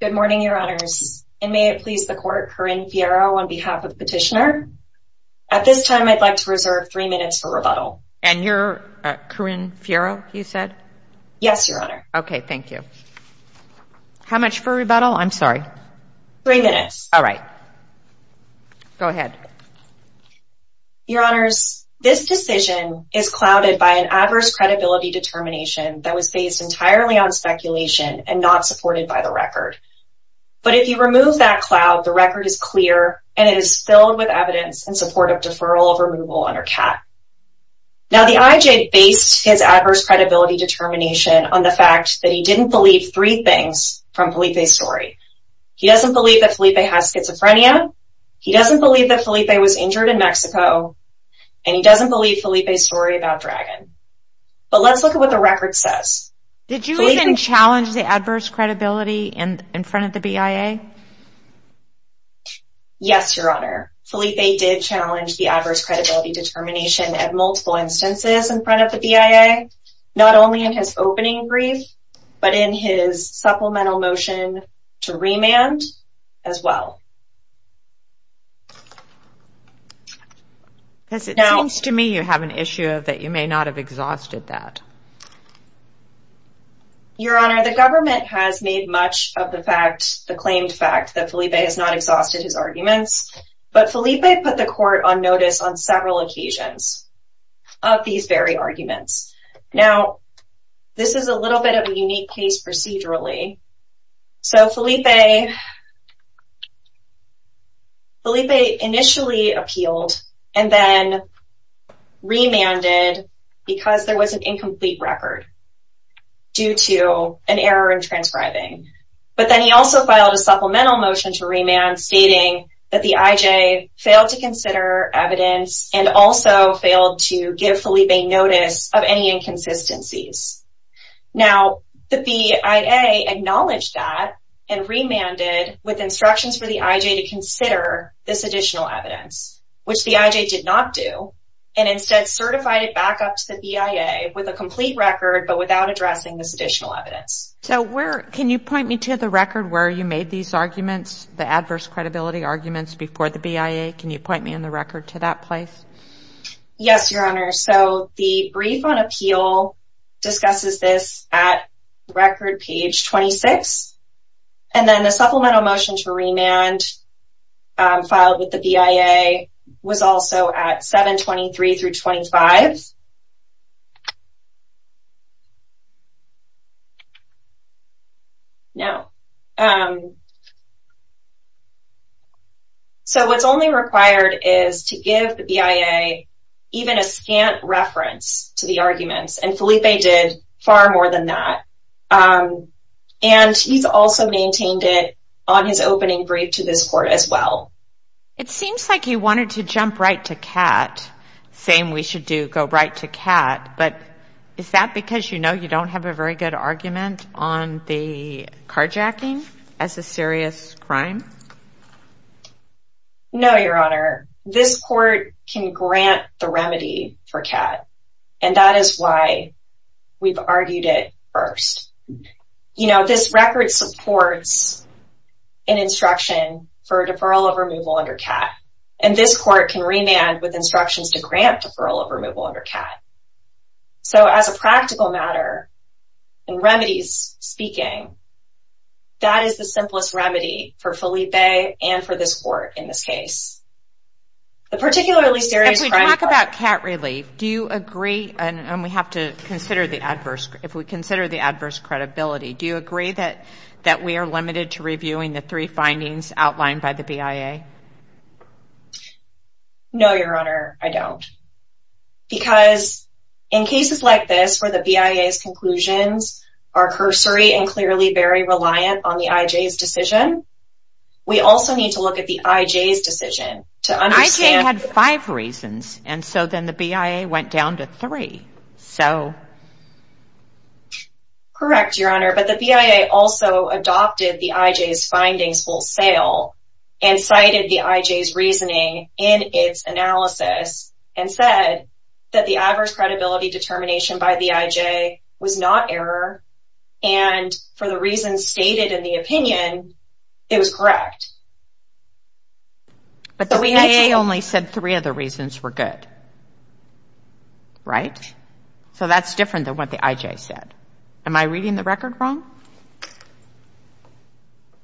Good morning, Your Honors, and may it please the Court, Corinne Fierro on behalf of Petitioner. At this time, I'd like to reserve three minutes for rebuttal. And you're Corinne Fierro, you said? Yes, Your Honor. Okay, thank you. How much for rebuttal? I'm sorry. Three minutes. All right. Go ahead. Your Honors, this decision is clouded by an adverse credibility determination that was based entirely on speculation and not supported by the record. But if you remove that cloud, the record is clear and it is filled with evidence in support of deferral of removal under CAT. Now the IJ based his adverse credibility determination on the fact that he didn't believe three things from Felipe's story. He doesn't believe that Felipe has schizophrenia. He doesn't believe that Felipe was injured in Mexico, and he doesn't believe Felipe's story about Dragon. But let's look at what the record says. Did you even challenge the adverse credibility in front of the BIA? Yes, Your Honor, Felipe did challenge the adverse credibility determination at multiple instances in front of the BIA, not only in his opening brief, but in his supplemental motion to remand as well. Because it seems to me you have an issue that you may not have exhausted that. Your Honor, the government has made much of the fact, the claimed fact, that Felipe has not exhausted his arguments. But Felipe put the court on notice on several occasions of these very arguments. Now this is a little bit of a unique case procedurally. So Felipe initially appealed and then remanded because there was an incomplete record due to an error in transcribing. But then he also filed a supplemental motion to remand stating that the IJ failed to consider evidence and also failed to give Felipe notice of any inconsistencies. Now the BIA acknowledged that and remanded with instructions for the IJ to consider this additional evidence, which the IJ did not do, and instead certified it back up to the BIA with a complete record but without addressing this additional evidence. So where, can you point me to the record where you made these arguments, the adverse credibility arguments before the BIA? Can you point me on the record to that place? Yes, Your Honor. So the brief on appeal discusses this at record page 26. And then the supplemental motion to remand filed with the BIA was also at 723 through 25. Do you have any other questions? No. So what's only required is to give the BIA even a scant reference to the arguments and Felipe did far more than that. And he's also maintained it on his opening brief to this Court as well. It seems like you wanted to jump right to Kat, same we should do, go right to Kat, but is that because you know you don't have a very good argument on the carjacking as a serious crime? No, Your Honor. This Court can grant the remedy for Kat and that is why we've argued it first. You know, this record supports an instruction for a deferral of removal under Kat. And this Court can remand with instructions to grant deferral of removal under Kat. So as a practical matter, in remedies speaking, that is the simplest remedy for Felipe and for this Court in this case. The particularly serious crime... If we talk about Kat relief, do you agree, and we have to consider the adverse, if we have to consider the adverse credibility, do you agree that we are limited to reviewing the three findings outlined by the BIA? No, Your Honor, I don't. Because in cases like this where the BIA's conclusions are cursory and clearly very reliant on the IJ's decision, we also need to look at the IJ's decision to understand... The IJ had five reasons and so then the BIA went down to three. Correct, Your Honor, but the BIA also adopted the IJ's findings full sail and cited the IJ's reasoning in its analysis and said that the adverse credibility determination by the IJ was not error and for the reasons stated in the opinion, it was correct. But the BIA only said three of the reasons were good, right? So that's different than what the IJ said. Am I reading the record wrong?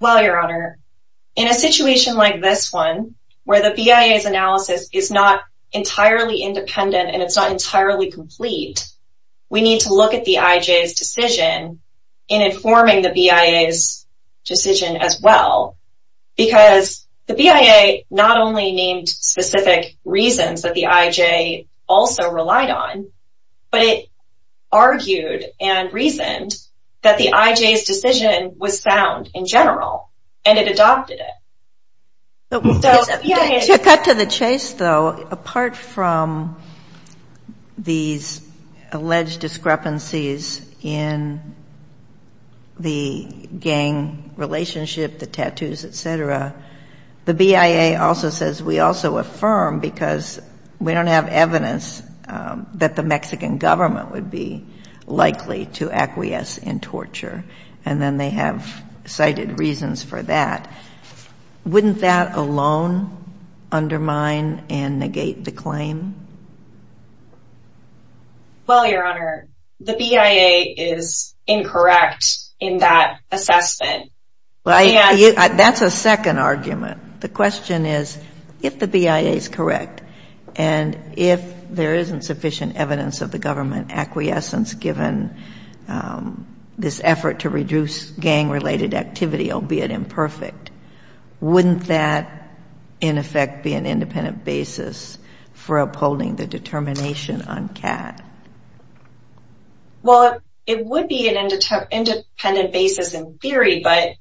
Well, Your Honor, in a situation like this one where the BIA's analysis is not entirely independent and it's not entirely complete, we need to look at the IJ's decision in informing the BIA's decision as well because the BIA not only named specific reasons that the IJ also relied on, but it argued and reasoned that the IJ's decision was sound in general and it adopted it. To cut to the chase though, apart from these alleged discrepancies in the gang relationship, the tattoos, etc., the BIA also says we also affirm because we don't have evidence that the Mexican government would be likely to acquiesce in torture and then they have cited reasons for that. Wouldn't that alone undermine and negate the claim? Well, Your Honor, the BIA is incorrect in that assessment. That's a second argument. The question is if the BIA is correct and if there isn't sufficient evidence of the Wouldn't that, in effect, be an independent basis for upholding the determination on CAT? Well, it would be an independent basis in theory, but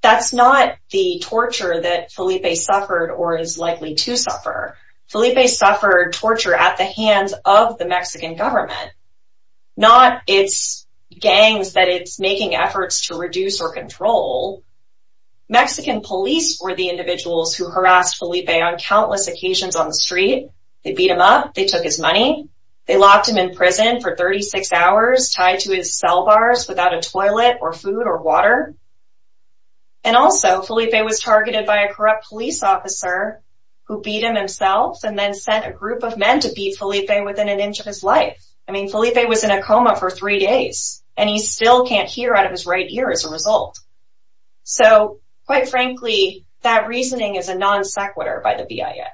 that's not the torture that Felipe suffered or is likely to suffer. Felipe suffered torture at the hands of the Mexican government, not its gangs that it's making efforts to reduce or control. Mexican police were the individuals who harassed Felipe on countless occasions on the street. They beat him up. They took his money. They locked him in prison for 36 hours, tied to his cell bars without a toilet or food or water. And also, Felipe was targeted by a corrupt police officer who beat him himself and then sent a group of men to beat Felipe within an inch of his life. I mean, Felipe was in a coma for three days and he still can't hear out of his right ear as a result. So, quite frankly, that reasoning is a non sequitur by the BIA.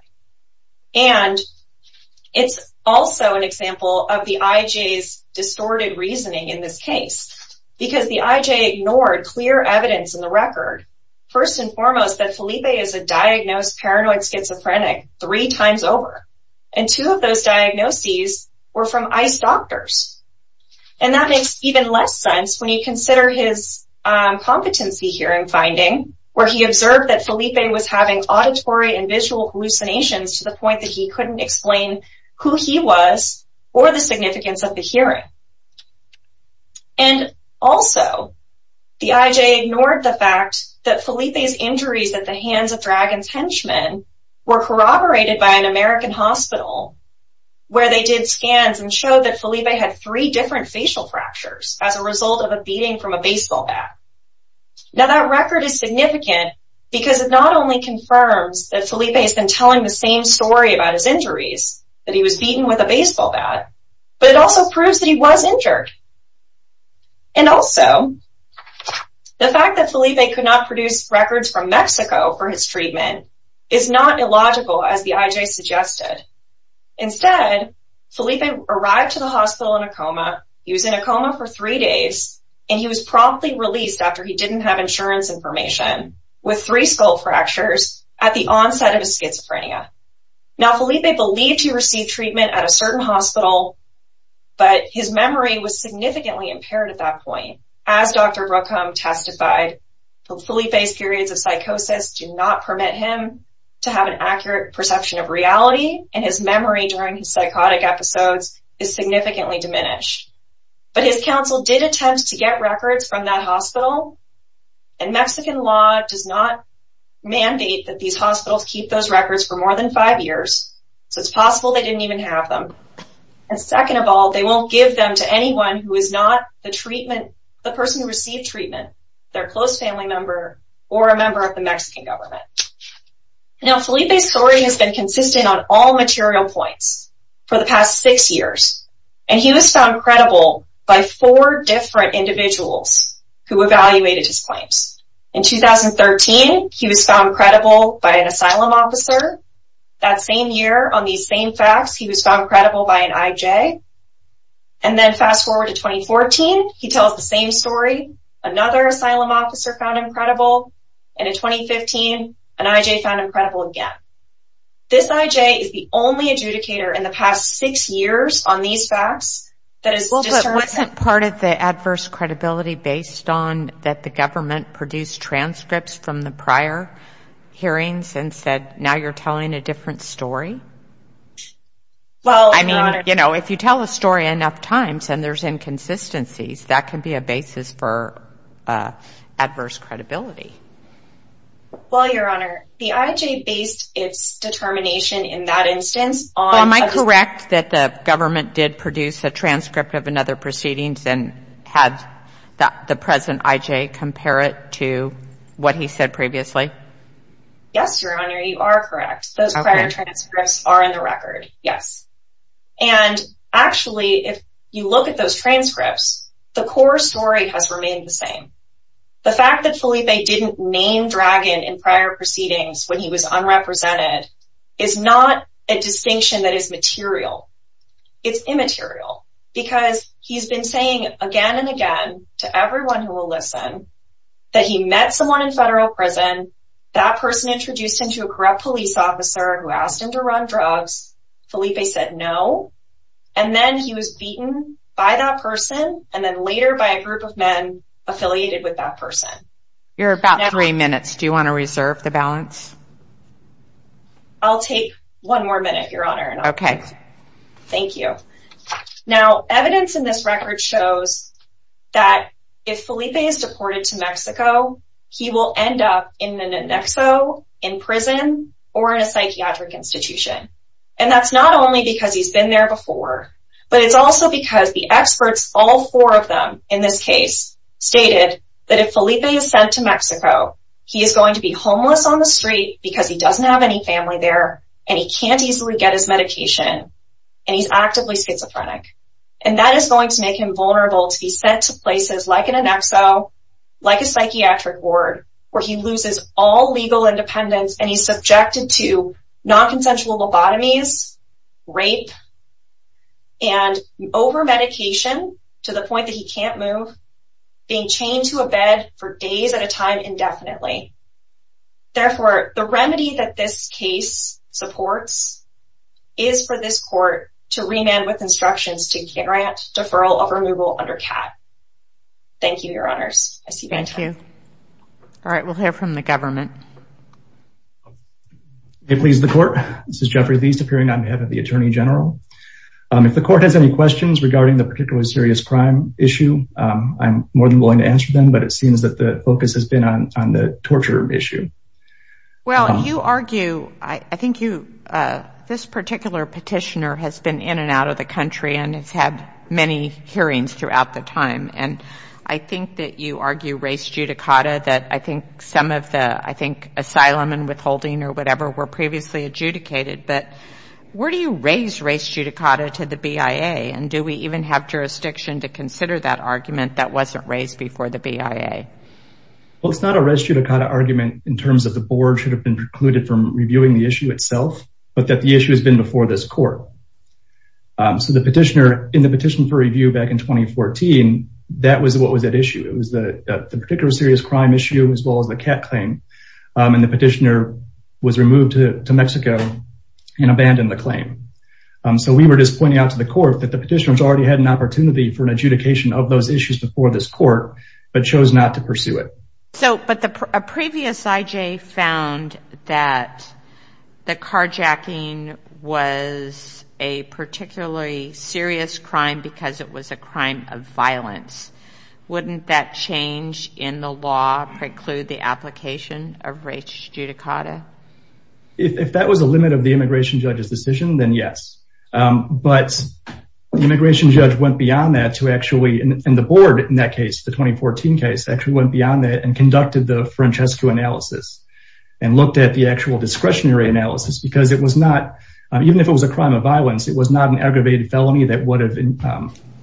And it's also an example of the IJ's distorted reasoning in this case because the IJ ignored clear evidence in the record, first and foremost, that Felipe is a diagnosed paranoid schizophrenic three times over. And two of those diagnoses were from ICE doctors. And that makes even less sense when you consider his competency hearing finding where he observed that Felipe was having auditory and visual hallucinations to the point that he couldn't explain who he was or the significance of the hearing. And also, the IJ ignored the fact that Felipe's injuries at the hands of Dragon's Henchmen were corroborated by an American hospital where they did scans and showed that Felipe had three different facial fractures as a result of a beating from a baseball bat. Now, that record is significant because it not only confirms that Felipe has been telling the same story about his injuries, that he was beaten with a baseball bat, but it also proves that he was injured. And also, the fact that Felipe could not produce records from Mexico for his treatment is not illogical as the IJ suggested. Instead, Felipe arrived to the hospital in a coma. He was in a coma for three days, and he was promptly released after he didn't have insurance information with three skull fractures at the onset of his schizophrenia. Now, Felipe believed he received treatment at a certain hospital, but his memory was significantly impaired at that point. As Dr. Brookholm testified, Felipe's periods of psychosis do not permit him to have an accurate perception of reality, and his memory during his psychotic episodes is significantly diminished. But his counsel did attempt to get records from that hospital, and Mexican law does not So it's possible they didn't even have them. And second of all, they won't give them to anyone who is not the person who received treatment, their close family member, or a member of the Mexican government. Now, Felipe's story has been consistent on all material points for the past six years, and he was found credible by four different individuals who evaluated his claims. In 2013, he was found credible by an asylum officer. That same year, on these same facts, he was found credible by an IJ. And then fast forward to 2014, he tells the same story. Another asylum officer found him credible, and in 2015, an IJ found him credible again. This IJ is the only adjudicator in the past six years on these facts that has determined Wasn't part of the adverse credibility based on that the government produced transcripts from the prior hearings and said, now you're telling a different story? I mean, you know, if you tell a story enough times and there's inconsistencies, that can be a basis for adverse credibility. Well, Your Honor, the IJ based its determination in that instance on Am I correct that the government did produce a transcript of another proceedings and had the present IJ compare it to what he said previously? Yes, Your Honor, you are correct. Those prior transcripts are in the record, yes. And actually, if you look at those transcripts, the core story has remained the same. The fact that Felipe didn't name Dragon in prior proceedings when he was unrepresented is not a distinction that is material. It's immaterial because he's been saying again and again to everyone who will listen that he met someone in federal prison, that person introduced him to a corrupt police officer who asked him to run drugs, Felipe said no, and then he was beaten by that person and then later by a group of men affiliated with that person. You're about three minutes. Do you want to reserve the balance? I'll take one more minute, Your Honor. Okay. Thank you. Now, evidence in this record shows that if Felipe is deported to Mexico, he will end up in the NNEXO, in prison, or in a psychiatric institution. And that's not only because he's been there before, but it's also because the experts, all four of them in this case, stated that if Felipe is sent to Mexico, he is going to be homeless on the street because he doesn't have any family there and he can't easily get his medication and he's actively schizophrenic. And that is going to make him vulnerable to be sent to places like an NNEXO, like a psychiatric ward, where he loses all legal independence and he's subjected to non-consensual lobotomies, rape, and over-medication to the point that he can't move, being chained to a bed for days at a time indefinitely. Therefore, the remedy that this case supports is for this court to remand with instructions to grant deferral of removal under CAT. Thank you, Your Honors. Thank you. All right. We'll hear from the government. May it please the Court. This is Jeffrey Theis, appearing on behalf of the Attorney General. If the Court has any questions regarding the particularly serious crime issue, I'm more than willing to answer them, but it seems that the focus has been on the torture issue. Well, you argue, I think you, this particular petitioner has been in and out of the country and has had many hearings throughout the time. And I think that you argue res judicata, that I think some of the, I think, asylum and withholding or whatever were previously adjudicated. But where do you raise res judicata to the BIA? And do we even have jurisdiction to consider that argument that wasn't raised before the BIA? Well, it's not a res judicata argument in terms of the board should have been precluded from reviewing the issue itself, but that the issue has been before this court. So the petitioner, in the petition for review back in 2014, that was what was at issue. It was the particular serious crime issue as well as the cat claim. And the petitioner was removed to Mexico and abandoned the claim. So we were just pointing out to the Court that the petitioner has already had an opportunity for an adjudication of those issues before this Court, but chose not to pursue it. So, but the previous IJ found that the carjacking was a particularly serious crime because it was a crime of violence. Wouldn't that change in the law preclude the application of res judicata? If that was a limit of the immigration judge's decision, then yes. But the immigration judge went beyond that to actually, and the board in that case, the 2014 case, actually went beyond that and conducted the Francesco analysis and looked at the actual discretionary analysis because it was not, even if it was a crime of violence, it was not an aggravated felony that would have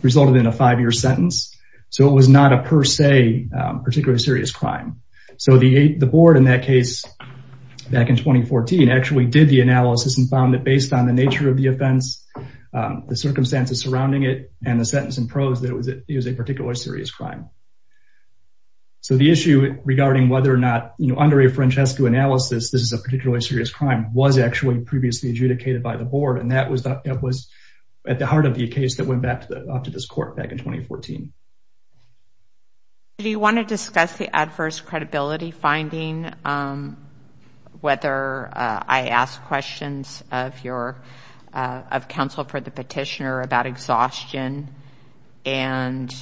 resulted in a five-year sentence. So it was not a per se, particularly serious crime. So the board in that case, back in 2014, actually did the analysis and found that based on the nature of the offense, the circumstances surrounding it, and the sentence in prose, that it was a particularly serious crime. So the issue regarding whether or not, under a Francesco analysis, this is a particularly serious crime was actually previously adjudicated by the board, and that was at the heart of the case that went back to this Court back in 2014. Do you want to discuss the adverse credibility finding? Whether I asked questions of counsel for the petitioner about exhaustion, and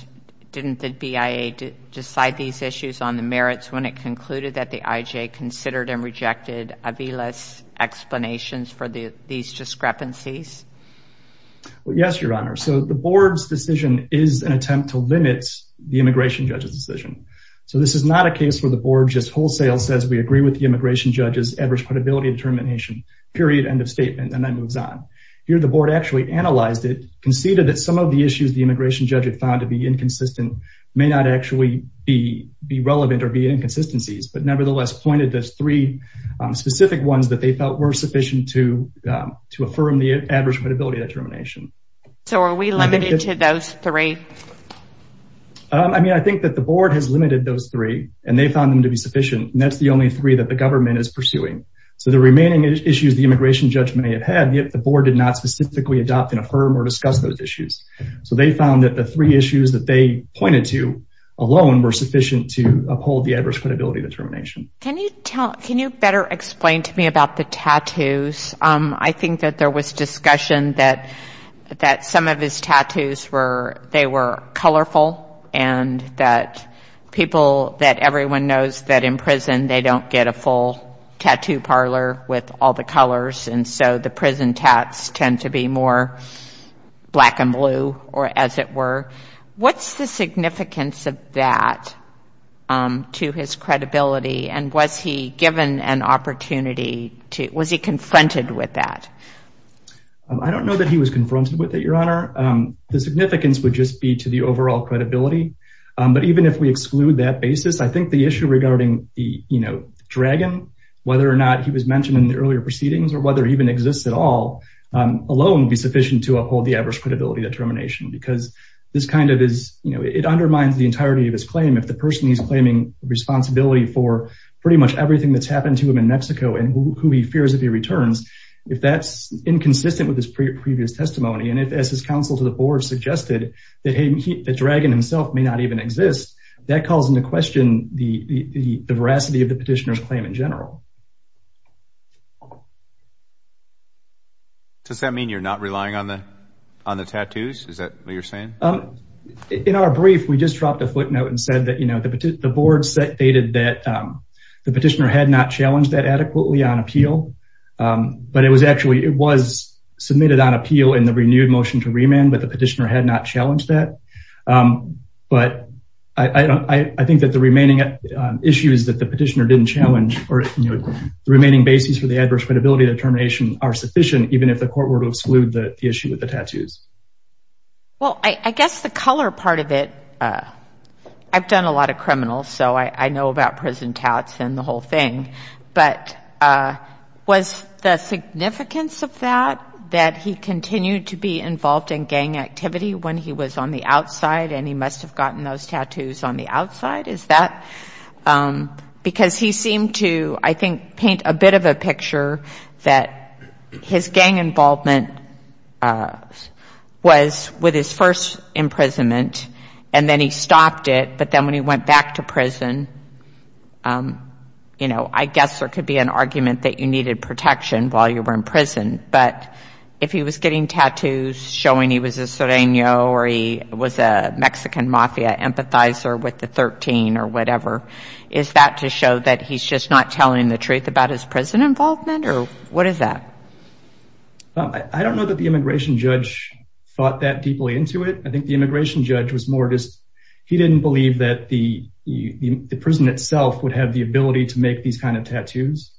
didn't the BIA decide these issues on the merits when it concluded that the IJ considered and rejected Avila's explanations for these discrepancies? Yes, Your Honor. So the board's decision is an attempt to limit the immigration judge's decision. So this is not a case where the board just wholesale says, we agree with the immigration judge's adverse credibility determination, period, end of statement, and then moves on. Here the board actually analyzed it, conceded that some of the issues the immigration judge had found to be inconsistent may not actually be relevant or be inconsistencies, but nevertheless pointed to three specific ones that they felt were sufficient to affirm the adverse credibility determination. So are we limited to those three? I mean, I think that the board has limited those three, and they found them to be sufficient, and that's the only three that the government is pursuing. So the remaining issues the immigration judge may have had, yet the board did not specifically adopt and affirm or discuss those issues. So they found that the three issues that they pointed to alone were sufficient to uphold the adverse credibility determination. Can you better explain to me about the tattoos? I think that there was discussion that some of his tattoos were, they were colorful, and that people, that everyone knows that in prison they don't get a full tattoo parlor with all the colors, and so the prison tats tend to be more black and blue, or as it were. What's the significance of that to his credibility, and was he given an opportunity to, was he confronted with that? I don't know that he was confronted with it, Your Honor. The significance would just be to the overall credibility, but even if we exclude that basis, I think the issue regarding the dragon, whether or not he was mentioned in the earlier proceedings, or whether he even exists at all, alone would be sufficient to uphold the adverse credibility determination, because this kind of is, you know, it undermines the entirety of his claim. If the person he's claiming responsibility for pretty much everything that's happened to him in Mexico, and who he fears if he returns, if that's inconsistent with his previous testimony, and if as his counsel to the board suggested, the dragon himself may not even exist, that calls into question the veracity of the petitioner's claim in general. Does that mean you're not relying on the tattoos? Is that what you're saying? In our brief, we just dropped a footnote and said that, you know, the board stated that the petitioner had not challenged that adequately on appeal, but it was actually, it was submitted on appeal in the renewed motion to remand, but the petitioner had not challenged that. But I think that the remaining issues that the petitioner didn't challenge, or the remaining basis for the adverse credibility determination are sufficient, even if the court were to exclude the issue with the tattoos. Well, I guess the color part of it, I've done a lot of criminals, so I know about prison tats and the whole thing, but was the significance of that, that he continued to be involved in gang activity when he was on the outside and he must have gotten those tattoos on the outside? Is that, because he seemed to, I think, paint a bit of a picture that his gang involvement was with his first imprisonment and then he stopped it, but then when he went back to prison, you know, I guess there could be an argument that you needed protection while you were in prison, but if he was getting tattoos showing he was a sereno or he was a Mexican mafia empathizer with the 13 or whatever, is that to show that he's just not telling the truth about his prison involvement? Or what is that? I don't know that the immigration judge thought that deeply into it. I think the immigration judge was more just, he didn't believe that the prison itself would have the ability to make these kind of tattoos.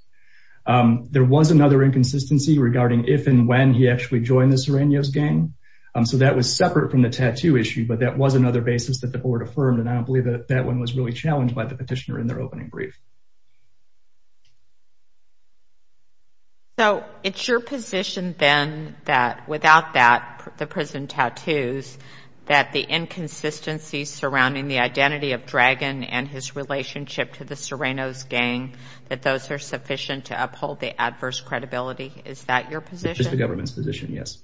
There was another inconsistency regarding if and when he actually joined the Serenos gang, so that was separate from the tattoo issue, but that was another basis that the board affirmed, and I don't believe that that one was really challenged by the petitioner in their opening brief. So it's your position then that without that, the prison tattoos, that the inconsistencies surrounding the identity of Dragon and his relationship to the Serenos gang, that those are sufficient to uphold the adverse credibility? Is that your position? It's the government's position, yes.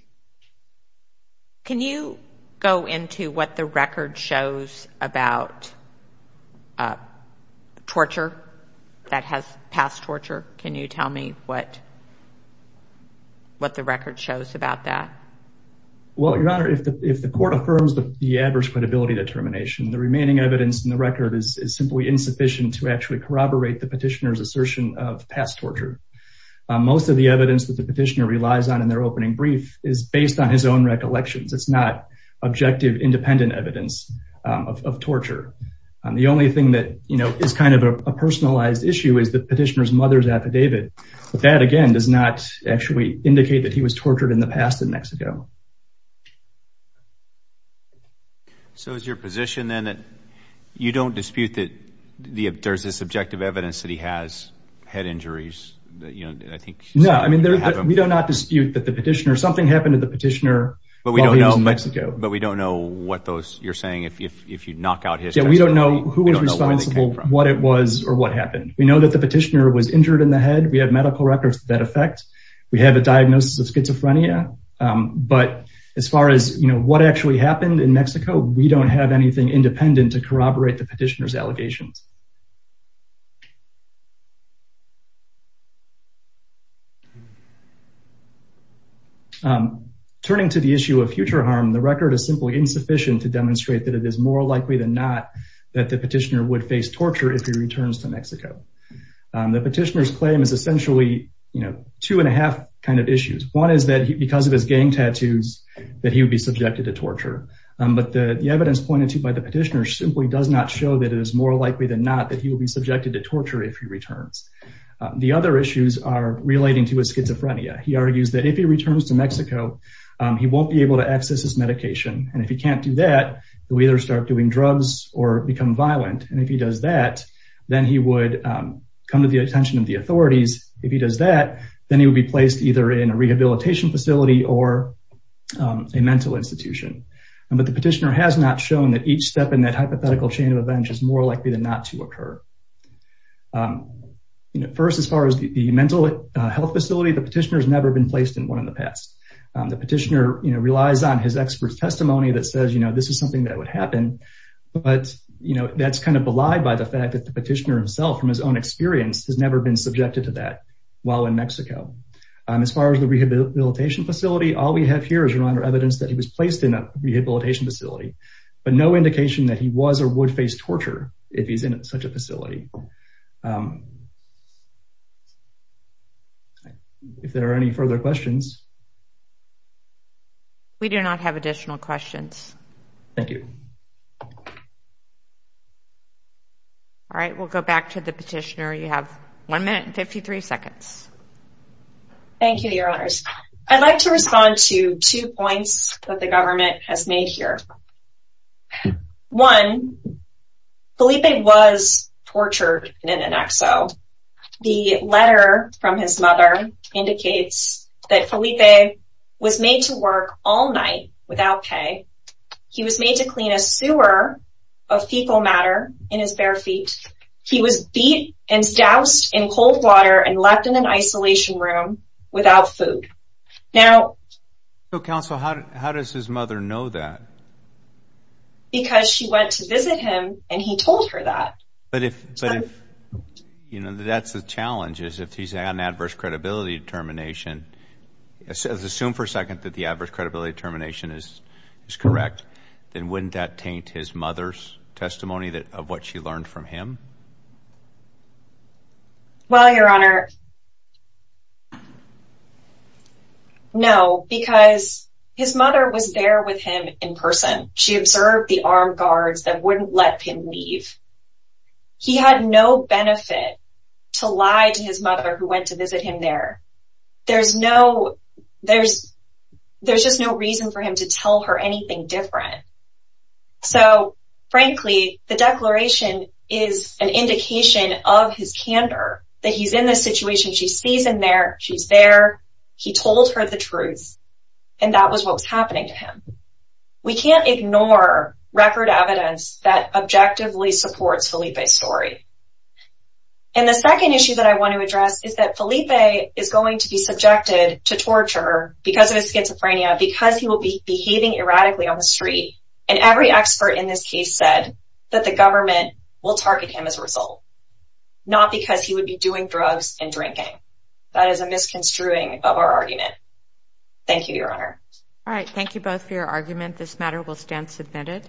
Can you go into what the record shows about torture that has passed torture? Can you tell me what the record shows about that? Well, Your Honor, if the court affirms the adverse credibility determination, the remaining evidence in the record is simply insufficient to actually corroborate the petitioner's assertion of past torture. Most of the evidence that the petitioner relies on in their opening brief is based on his own recollections. It's not objective, independent evidence of torture. The only thing that is kind of a personalized issue is the petitioner's mother's affidavit, but that, again, does not actually indicate that he was tortured in the past in Mexico. So is your position then that you don't dispute that there's this objective evidence that he has head injuries? No, I mean, we do not dispute that the petitioner, something happened to the petitioner while he was in Mexico. But we don't know what those, you're saying, if you knock out his testimony. Yeah, we don't know who was responsible, what it was, or what happened. We know that the petitioner was injured in the head. We have medical records that affect. We have a diagnosis of schizophrenia. But as far as what actually happened in Mexico, we don't have anything independent to corroborate the petitioner's allegations. Turning to the issue of future harm, the record is simply insufficient to demonstrate that it is more likely than not that the petitioner would face torture if he returns to Mexico. The petitioner's claim is essentially, you know, two and a half kind of issues. One is that because of his gang tattoos, that he would be subjected to torture. But the evidence pointed to by the petitioner simply does not show that it is more likely than not that he will be subjected to torture if he returns. The other issues are relating to his schizophrenia. He argues that if he returns to Mexico, he won't be able to access his medication. And if he can't do that, he'll either start doing drugs or become violent. And if he does that, then he would come to the attention of the authorities. If he does that, then he would be placed either in a rehabilitation facility or a mental institution. But the petitioner has not shown that each step in that hypothetical chain of events is more likely than not to occur. First, as far as the mental health facility, the petitioner has never been placed in one in the past. The petitioner relies on his expert testimony that says, you know, this is something that would happen. But, you know, that's kind of belied by the fact that the petitioner himself, from his own experience, has never been subjected to that while in Mexico. As far as the rehabilitation facility, all we have here is reminder evidence that he was placed in a rehabilitation facility. But no indication that he was or would face torture if he's in such a facility. If there are any further questions. We do not have additional questions. Thank you. All right, we'll go back to the petitioner. You have one minute and 53 seconds. Thank you, Your Honors. I'd like to respond to two points that the government has made here. One, Felipe was tortured in an XO. The letter from his mother indicates that Felipe was made to work all night without pay. He was made to clean a sewer of fecal matter in his bare feet. He was beat and doused in cold water and left in an isolation room without food. Now... Counsel, how does his mother know that? Because she went to visit him and he told her that. But if... You know, that's the challenge is if he's had an adverse credibility determination. Assume for a second that the adverse credibility determination is correct. Then wouldn't that taint his mother's testimony of what she learned from him? Well, Your Honor... No, because his mother was there with him in person. She observed the armed guards that wouldn't let him leave. He had no benefit to lie to his mother who went to visit him there. There's no... There's... There's just no reason for him to tell her anything different. So, frankly, the declaration is an indication of his candor that he's in this situation. She sees him there. She's there. He told her the truth. And that was what was happening to him. We can't ignore record evidence that objectively supports Felipe's story. And the second issue that I want to address is that Felipe is going to be subjected to torture because of his schizophrenia, because he will be behaving erratically on the street. And every expert in this case said that the government will target him as a result. Not because he would be doing drugs and drinking. That is a misconstruing of our argument. Thank you, Your Honor. All right. Thank you both for your argument. This matter will stand submitted.